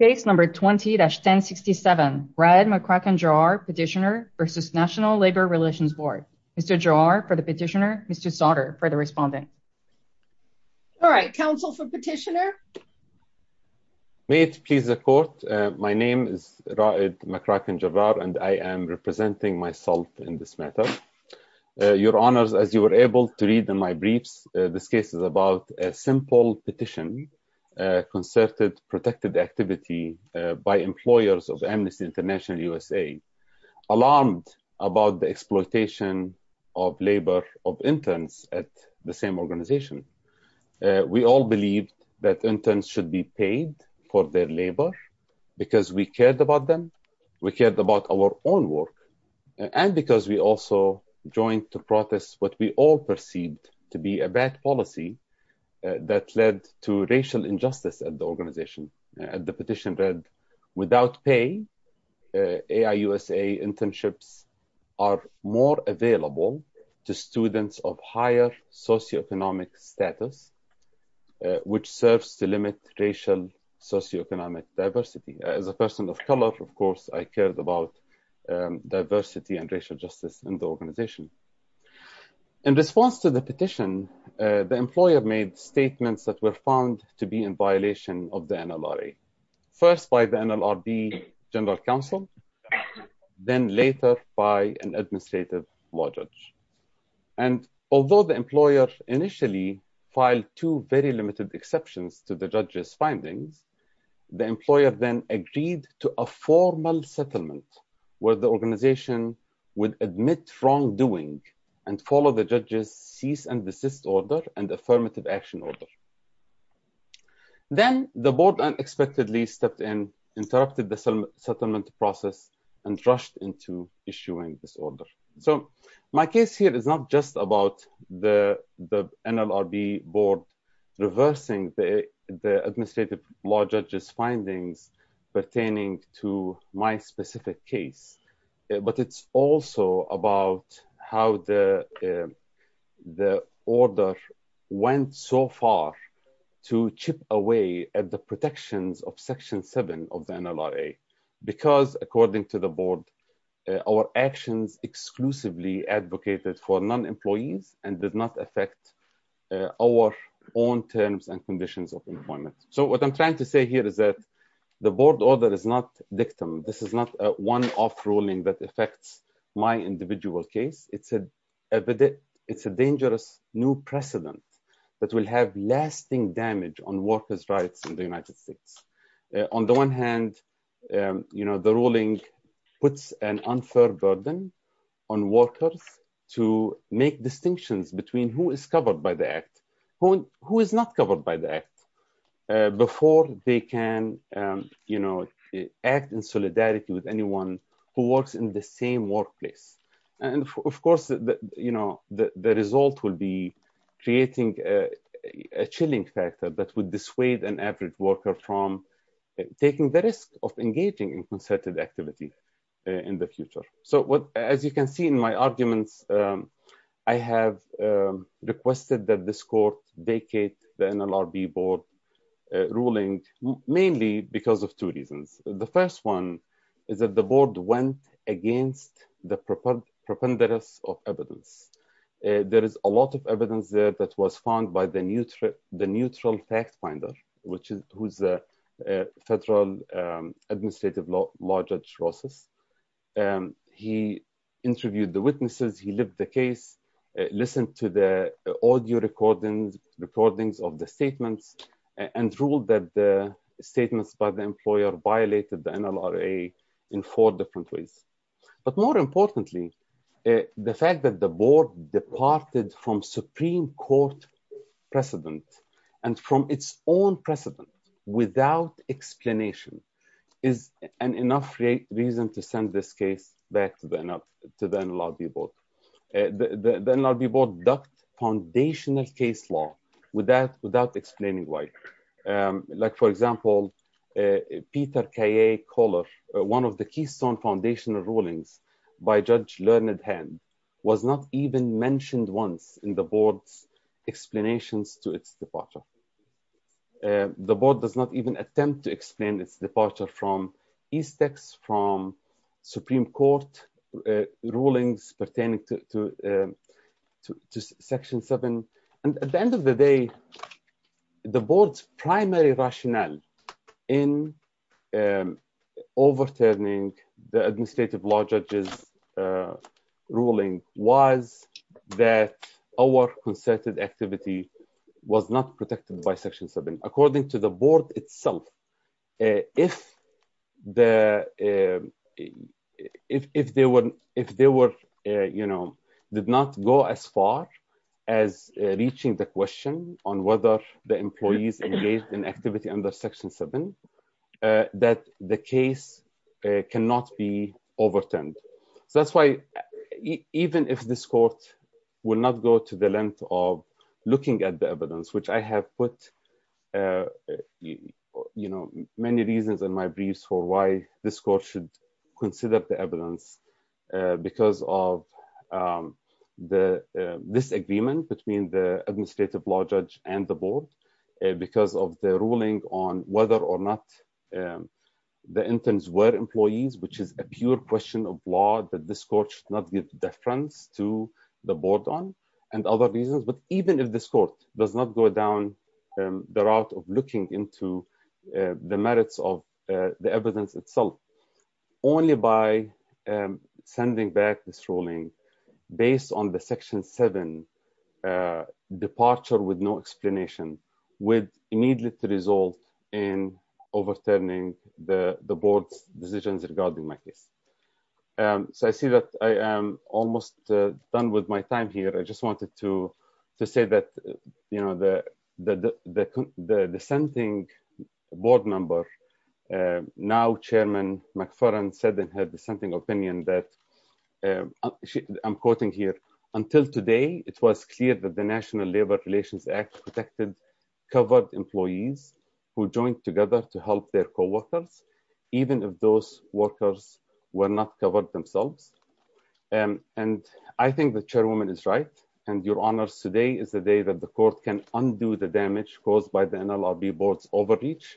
Case number 20-1067, Raed McCracken Jarrar, Petitioner v. National Labor Relations Board. Mr. Jarrar for the Petitioner, Mr. Sauter for the Respondent. All right, counsel for Petitioner. May it please the court, my name is Raed McCracken Jarrar and I am representing myself in this matter. Your Honours, as you were able to read in my briefs, this case is about a simple petition concerted protected activity by employers of Amnesty International USA, alarmed about the exploitation of labor of interns at the same organization. We all believed that interns should be paid for their labor because we cared about them, we cared about our own work, and because we also joined to protest what we all perceived to be a bad policy that led to racial injustice at the organization. The petition read, without pay, AIUSA internships are more available to students of higher socioeconomic status, which serves to limit racial socioeconomic diversity. As a person of color, of course, I cared about diversity and racial justice in the organization. In response to the petition, the employer made statements that were found to be in violation of the NLRA, first by the NLRB general counsel, then later by an administrative law judge. And although the employer initially filed two very limited exceptions to the judge's findings, the employer then agreed to a formal order and affirmative action order. Then the board unexpectedly stepped in, interrupted the settlement process, and rushed into issuing this order. So my case here is not just about the NLRB board reversing the administrative law judge's findings pertaining to my specific case, but it's also about how the order went so far to chip away at the protections of Section 7 of the NLRA, because according to the board, our actions exclusively advocated for non-employees and did not affect our own terms and conditions of employment. So what I'm trying to say here is that the board order is not dictum. This is not a one-off ruling that affects my individual case. It's a dangerous new precedent that will have lasting damage on workers' rights in the United States. On the one hand, the ruling puts an unfair burden on workers to make sure they can act in solidarity with anyone who works in the same workplace. And of course, the result will be creating a chilling factor that would dissuade an average worker from taking the risk of engaging in concerted activity in the future. So as you can see in my arguments, I have requested that this court vacate the NLRB board ruling, mainly because of two reasons. The first one is that the board went against the preponderance of evidence. There is a lot of evidence there that was found by the neutral fact finder, who's a federal administrative law judge. He interviewed the witnesses, he lived the case, listened to the audio recordings of the statements, and ruled that the statements by the employer violated the NLRA in four different ways. But more importantly, the fact that the board departed from Supreme Court precedent and from its own precedent without explanation is enough reason to send this case back to the NLRB board. The NLRB board ducked foundational case law without explaining why. Like for example, Peter K.A. Koller, one of the keystone foundational rulings by Judge Learned Hand, was not even mentioned once in the board's explanations to its departure. The board does not even attempt to explain its departure from the Supreme Court rulings pertaining to Section 7. At the end of the day, the board's primary rationale in overturning the administrative law judge's ruling was that our concerted activity was not protected by Section 7. According to the board itself, if they did not go as far as reaching the question on whether the employees engaged in activity under Section 7, that the case cannot be overturned. So that's why, even if this court will not go to the length of looking at the evidence, which I have put many reasons in my briefs for why this court should consider the evidence, because of the disagreement between the administrative law judge and the board, because of the ruling on whether or not the interns were employees, which is a pure question of law that this court should not give deference to the board on, and other reasons. But even if this court does not go down the route of looking into the merits of the evidence itself, only by sending back this ruling based on the Section 7 departure with no explanation would immediately result in overturning the board's decisions regarding my case. So I see that I am almost done with my time here. I just wanted to say that the dissenting board member, now Chairman McFarland, said in her dissenting opinion that, I'm quoting here, until today, it was clear that the National Labor Relations Act protected covered employees who joined together to help their co-workers, even if those workers were not covered themselves. And I think the Chairwoman is right, and your honors, today is the day that the court can undo the damage caused by the NLRB board's overreach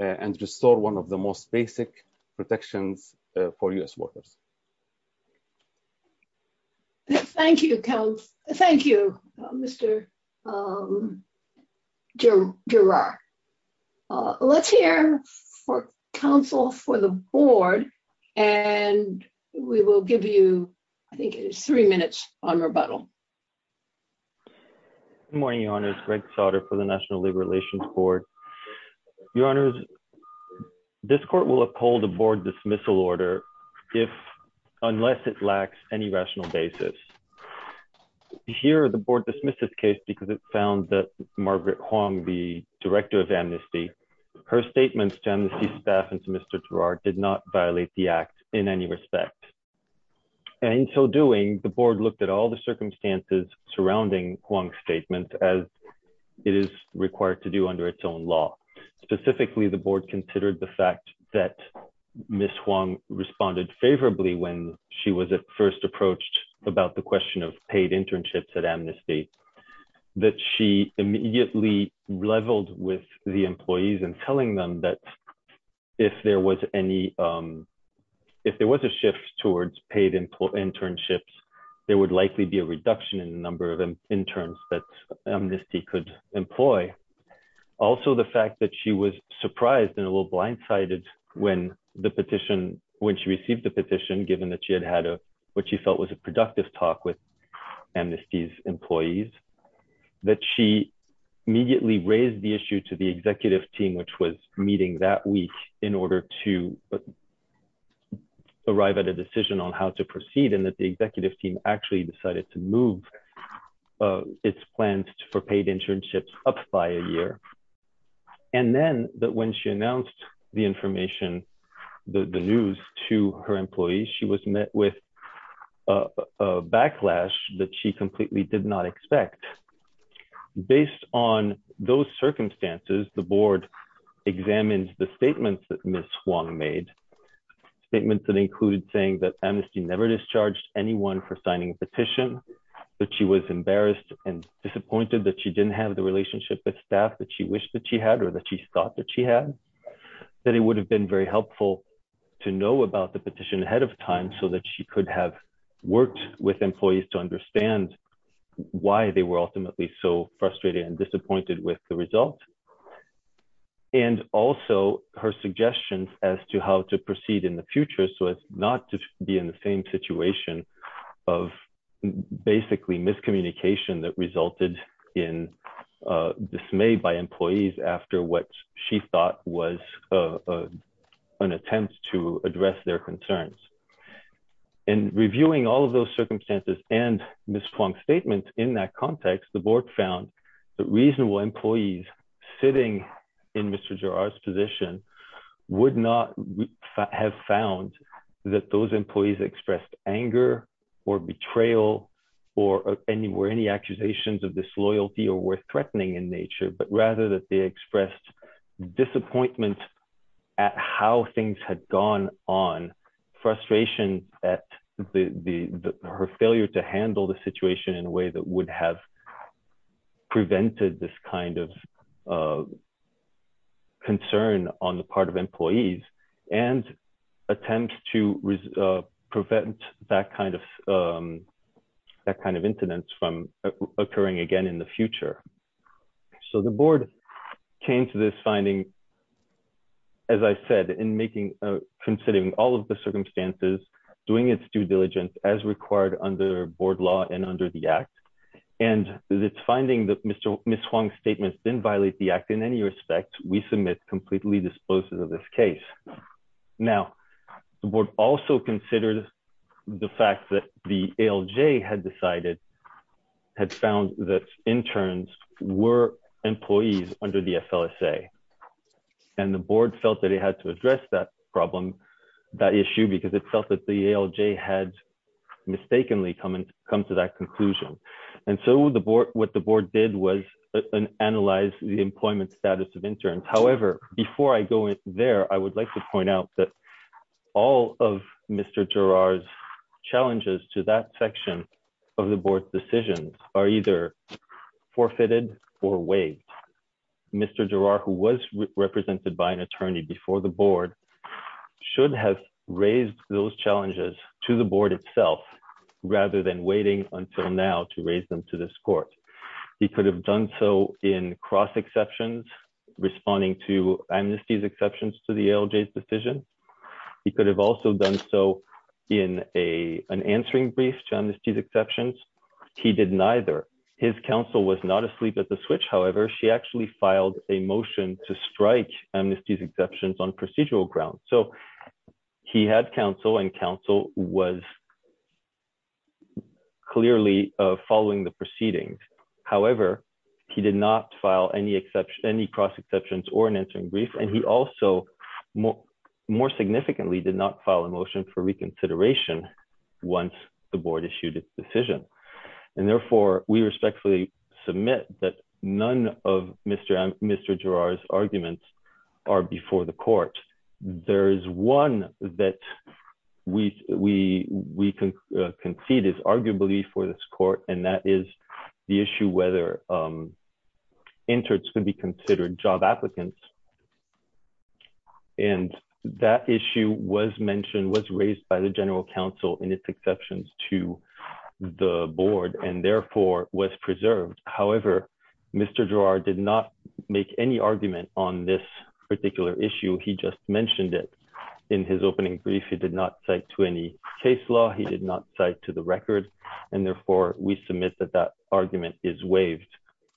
and restore one of the most basic protections for U.S. workers. Thank you, Mr. Giroir. Let's hear for counsel for the board, and we will give you, I think it is three minutes on rebuttal. Good morning, your honors. Greg Sautter for the National Labor Relations Board. Your honors, this court will uphold the board dismissal order if the board unless it lacks any rational basis. Here, the board dismissed this case because it found that Margaret Hwang, the director of amnesty, her statements to amnesty staff and to Mr. Giroir did not violate the act in any respect. And in so doing, the board looked at all the circumstances surrounding Hwang's statement as it is required to do under its own law. Specifically, the board considered the fact that Ms. Hwang responded favorably when she was first approached about the question of paid internships at amnesty, that she immediately leveled with the employees and telling them that if there was a shift towards paid internships, there would likely be a reduction in the number of interns that amnesty could employ. Also, the fact that she was surprised and a little blindsided when the petition, when she received the petition, given that she had had what she felt was a productive talk with amnesty's employees, that she immediately raised the issue to the executive team, which was meeting that week in order to arrive at a decision on how to proceed and that the executive team actually decided to move its plans for paid internships up by a year. And then that when she announced the information, the news to her employees, she was met with a backlash that she completely did not expect. Based on those circumstances, the board examines the statements that Ms. Hwang made, statements that included saying that amnesty never discharged anyone for signing a petition, that she was embarrassed and disappointed that she didn't have the relationship with staff that she wished that she had or that she thought that she had, that it would have been very helpful to know about the petition ahead of time so that she could have worked with employees to understand why they were ultimately so frustrated and disappointed with the result. And also her suggestions as to how to proceed in the future so as not to be in the same situation of basically miscommunication that resulted in dismay by employees after what she thought was an attempt to address their concerns. In reviewing all of those circumstances and Ms. Hwang's statement in that context, the board found that reasonable employees sitting in Mr. Girard's position would not have found that those employees expressed anger or betrayal or any accusations of disloyalty or were threatening in nature, but rather that they expressed disappointment at how things had gone on, frustration at her failure to handle the situation in a way that would have prevented this kind of concern on the part of employees and attempts to prevent that kind of incidents from occurring again in the future. So the board came to this finding, as I said, in making, considering all of the circumstances, doing its due diligence as required under board law and under the act, and its finding that Ms. Hwang's statements didn't violate the act in any respect, we submit completely disposed of this case. Now, the board also considered the fact that the ALJ had decided, had found that interns were employees under the SLSA. And the board felt that it had to address that problem, that issue, because it felt that the ALJ had mistakenly come to that conclusion. And so what the board did was analyze the employment status of interns. However, before I go there, I would like to point out that all of Mr. Girard's challenges to that section of the board's decisions are either forfeited or waived. Mr. Girard, who was represented by an attorney before the board, should have raised those challenges to the board itself, rather than waiting until now to raise them to this court. He could have done so in cross exceptions, responding to amnesties exceptions to the ALJ's decision. He could have also done so in an answering brief to amnesties exceptions. He did actually file a motion to strike amnesties exceptions on procedural grounds. So he had counsel and counsel was clearly following the proceedings. However, he did not file any cross exceptions or an answering brief. And he also more significantly did not file a motion for reconsideration once the board issued its decision. And therefore, we respectfully submit that none of Mr. Girard's arguments are before the court. There is one that we concede is arguably for this court, and that is the issue whether interns could be considered job applicants. And that issue was mentioned, was raised by the general counsel in its exceptions to the board, and therefore was preserved. However, Mr. Girard did not make any argument on this particular issue. He just mentioned it in his opening brief. He did not cite to any case law. He did not cite to the record. And therefore, we submit that that argument is waived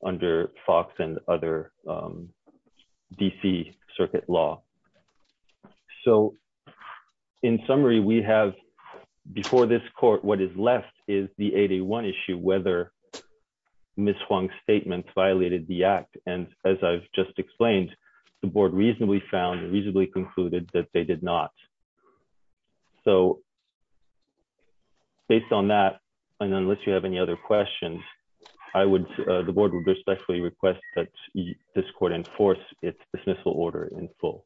under Fox and other DC circuit law. So in summary, we have before this court, what is left is the 81 issue whether Ms. Huang's statement violated the act. And as I've just explained, the board reasonably found reasonably concluded that they did not. So based on that, and unless you have any other questions, I would, the board would respectfully request that this court enforce its dismissal order in full.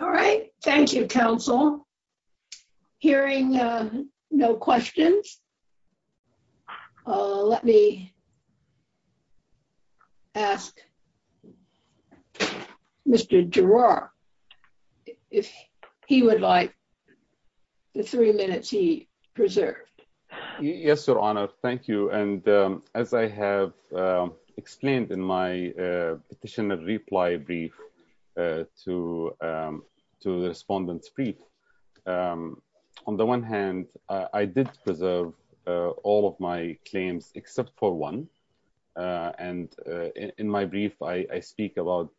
All right. Thank you, counsel. Hearing no questions. Let me ask Mr. Girard if he would like the three minutes he preserved. Yes, Your Honor. Thank you. And as I have explained in my petition and reply brief to the respondents brief, on the one hand, I did preserve all of my claims except for one. And in my brief, I speak about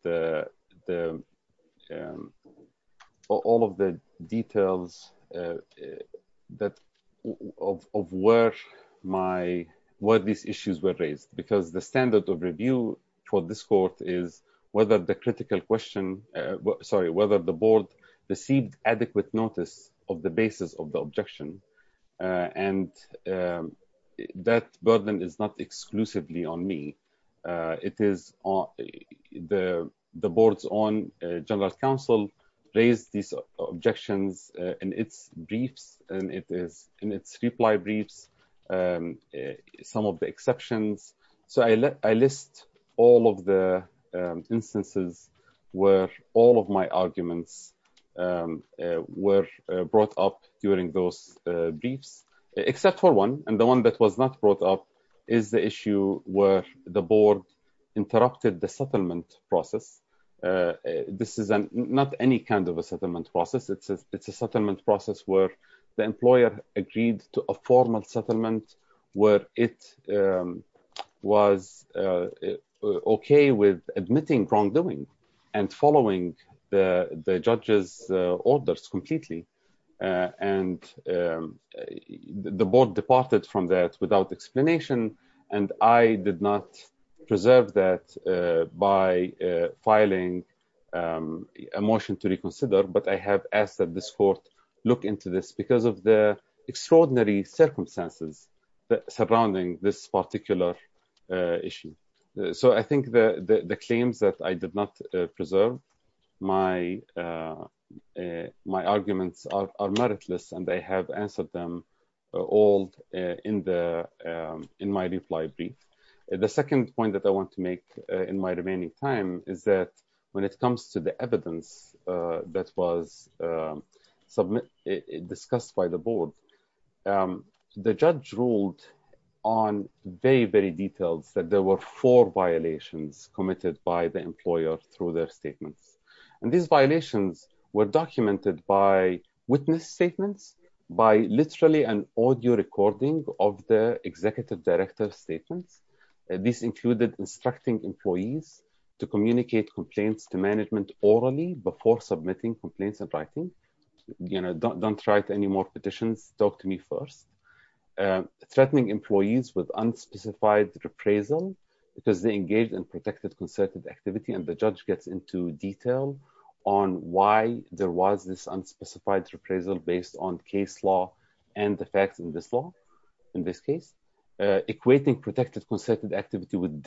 all of the details of where these issues were raised, because the standard of review for this court is whether the critical question, sorry, whether the board received adequate notice of the basis of the objection. And that burden is not exclusively on me. It is the board's own general counsel raised these objections in its briefs and in its reply briefs, some of the exceptions. So I list all of the instances where all of my arguments were brought up during those briefs, except for one. And the one that was not brought up is the issue where the board interrupted the settlement process. This is not any kind of a settlement process. It's a settlement process where the employer agreed to a formal settlement where it was okay with admitting wrongdoing and following the judge's orders completely. And the board departed from that without explanation. And I did not preserve that by filing a motion to reconsider. But I have asked that this court look into this because of the circumstances surrounding this particular issue. So I think the claims that I did not preserve, my arguments are meritless and I have answered them all in my reply brief. The second point that I want to make in my remaining time is that when it comes to the the judge ruled on very, very details that there were four violations committed by the employer through their statements. And these violations were documented by witness statements, by literally an audio recording of the executive director's statements. This included instructing employees to communicate complaints to management orally before submitting complaints and writing, you know, don't write any more petitions, talk to me first. Threatening employees with unspecified reprisal because they engaged in protected concerted activity and the judge gets into detail on why there was this unspecified reprisal based on case law and the facts in this law, in this case. Equating protected concerted activity with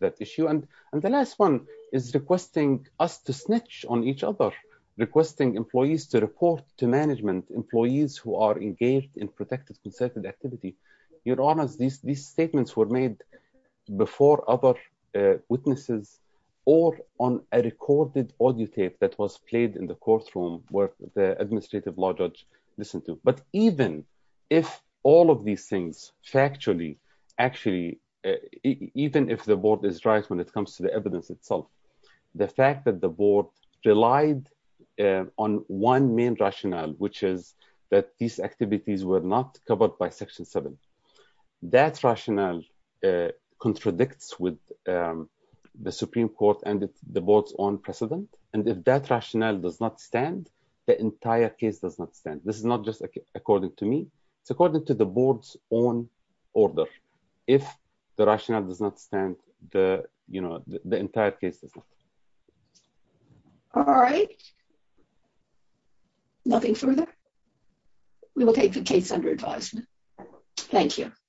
that issue. And the last one is requesting us to snitch on each other, requesting employees to report to management, employees who are engaged in protected concerted activity. Your Honours, these statements were made before other witnesses or on a recorded audio tape that was played in the courtroom where the administrative law judge listened to. But even if all of these factually, actually, even if the board is right when it comes to the evidence itself, the fact that the board relied on one main rationale, which is that these activities were not covered by Section 7, that rationale contradicts with the Supreme Court and the board's own precedent. And if that rationale does not stand, the entire case does not stand. This is not just according to me. It's according to the board's own order. If the rationale does not stand, the entire case does not. All right. Nothing further? We will take the case under advisement. Thank you.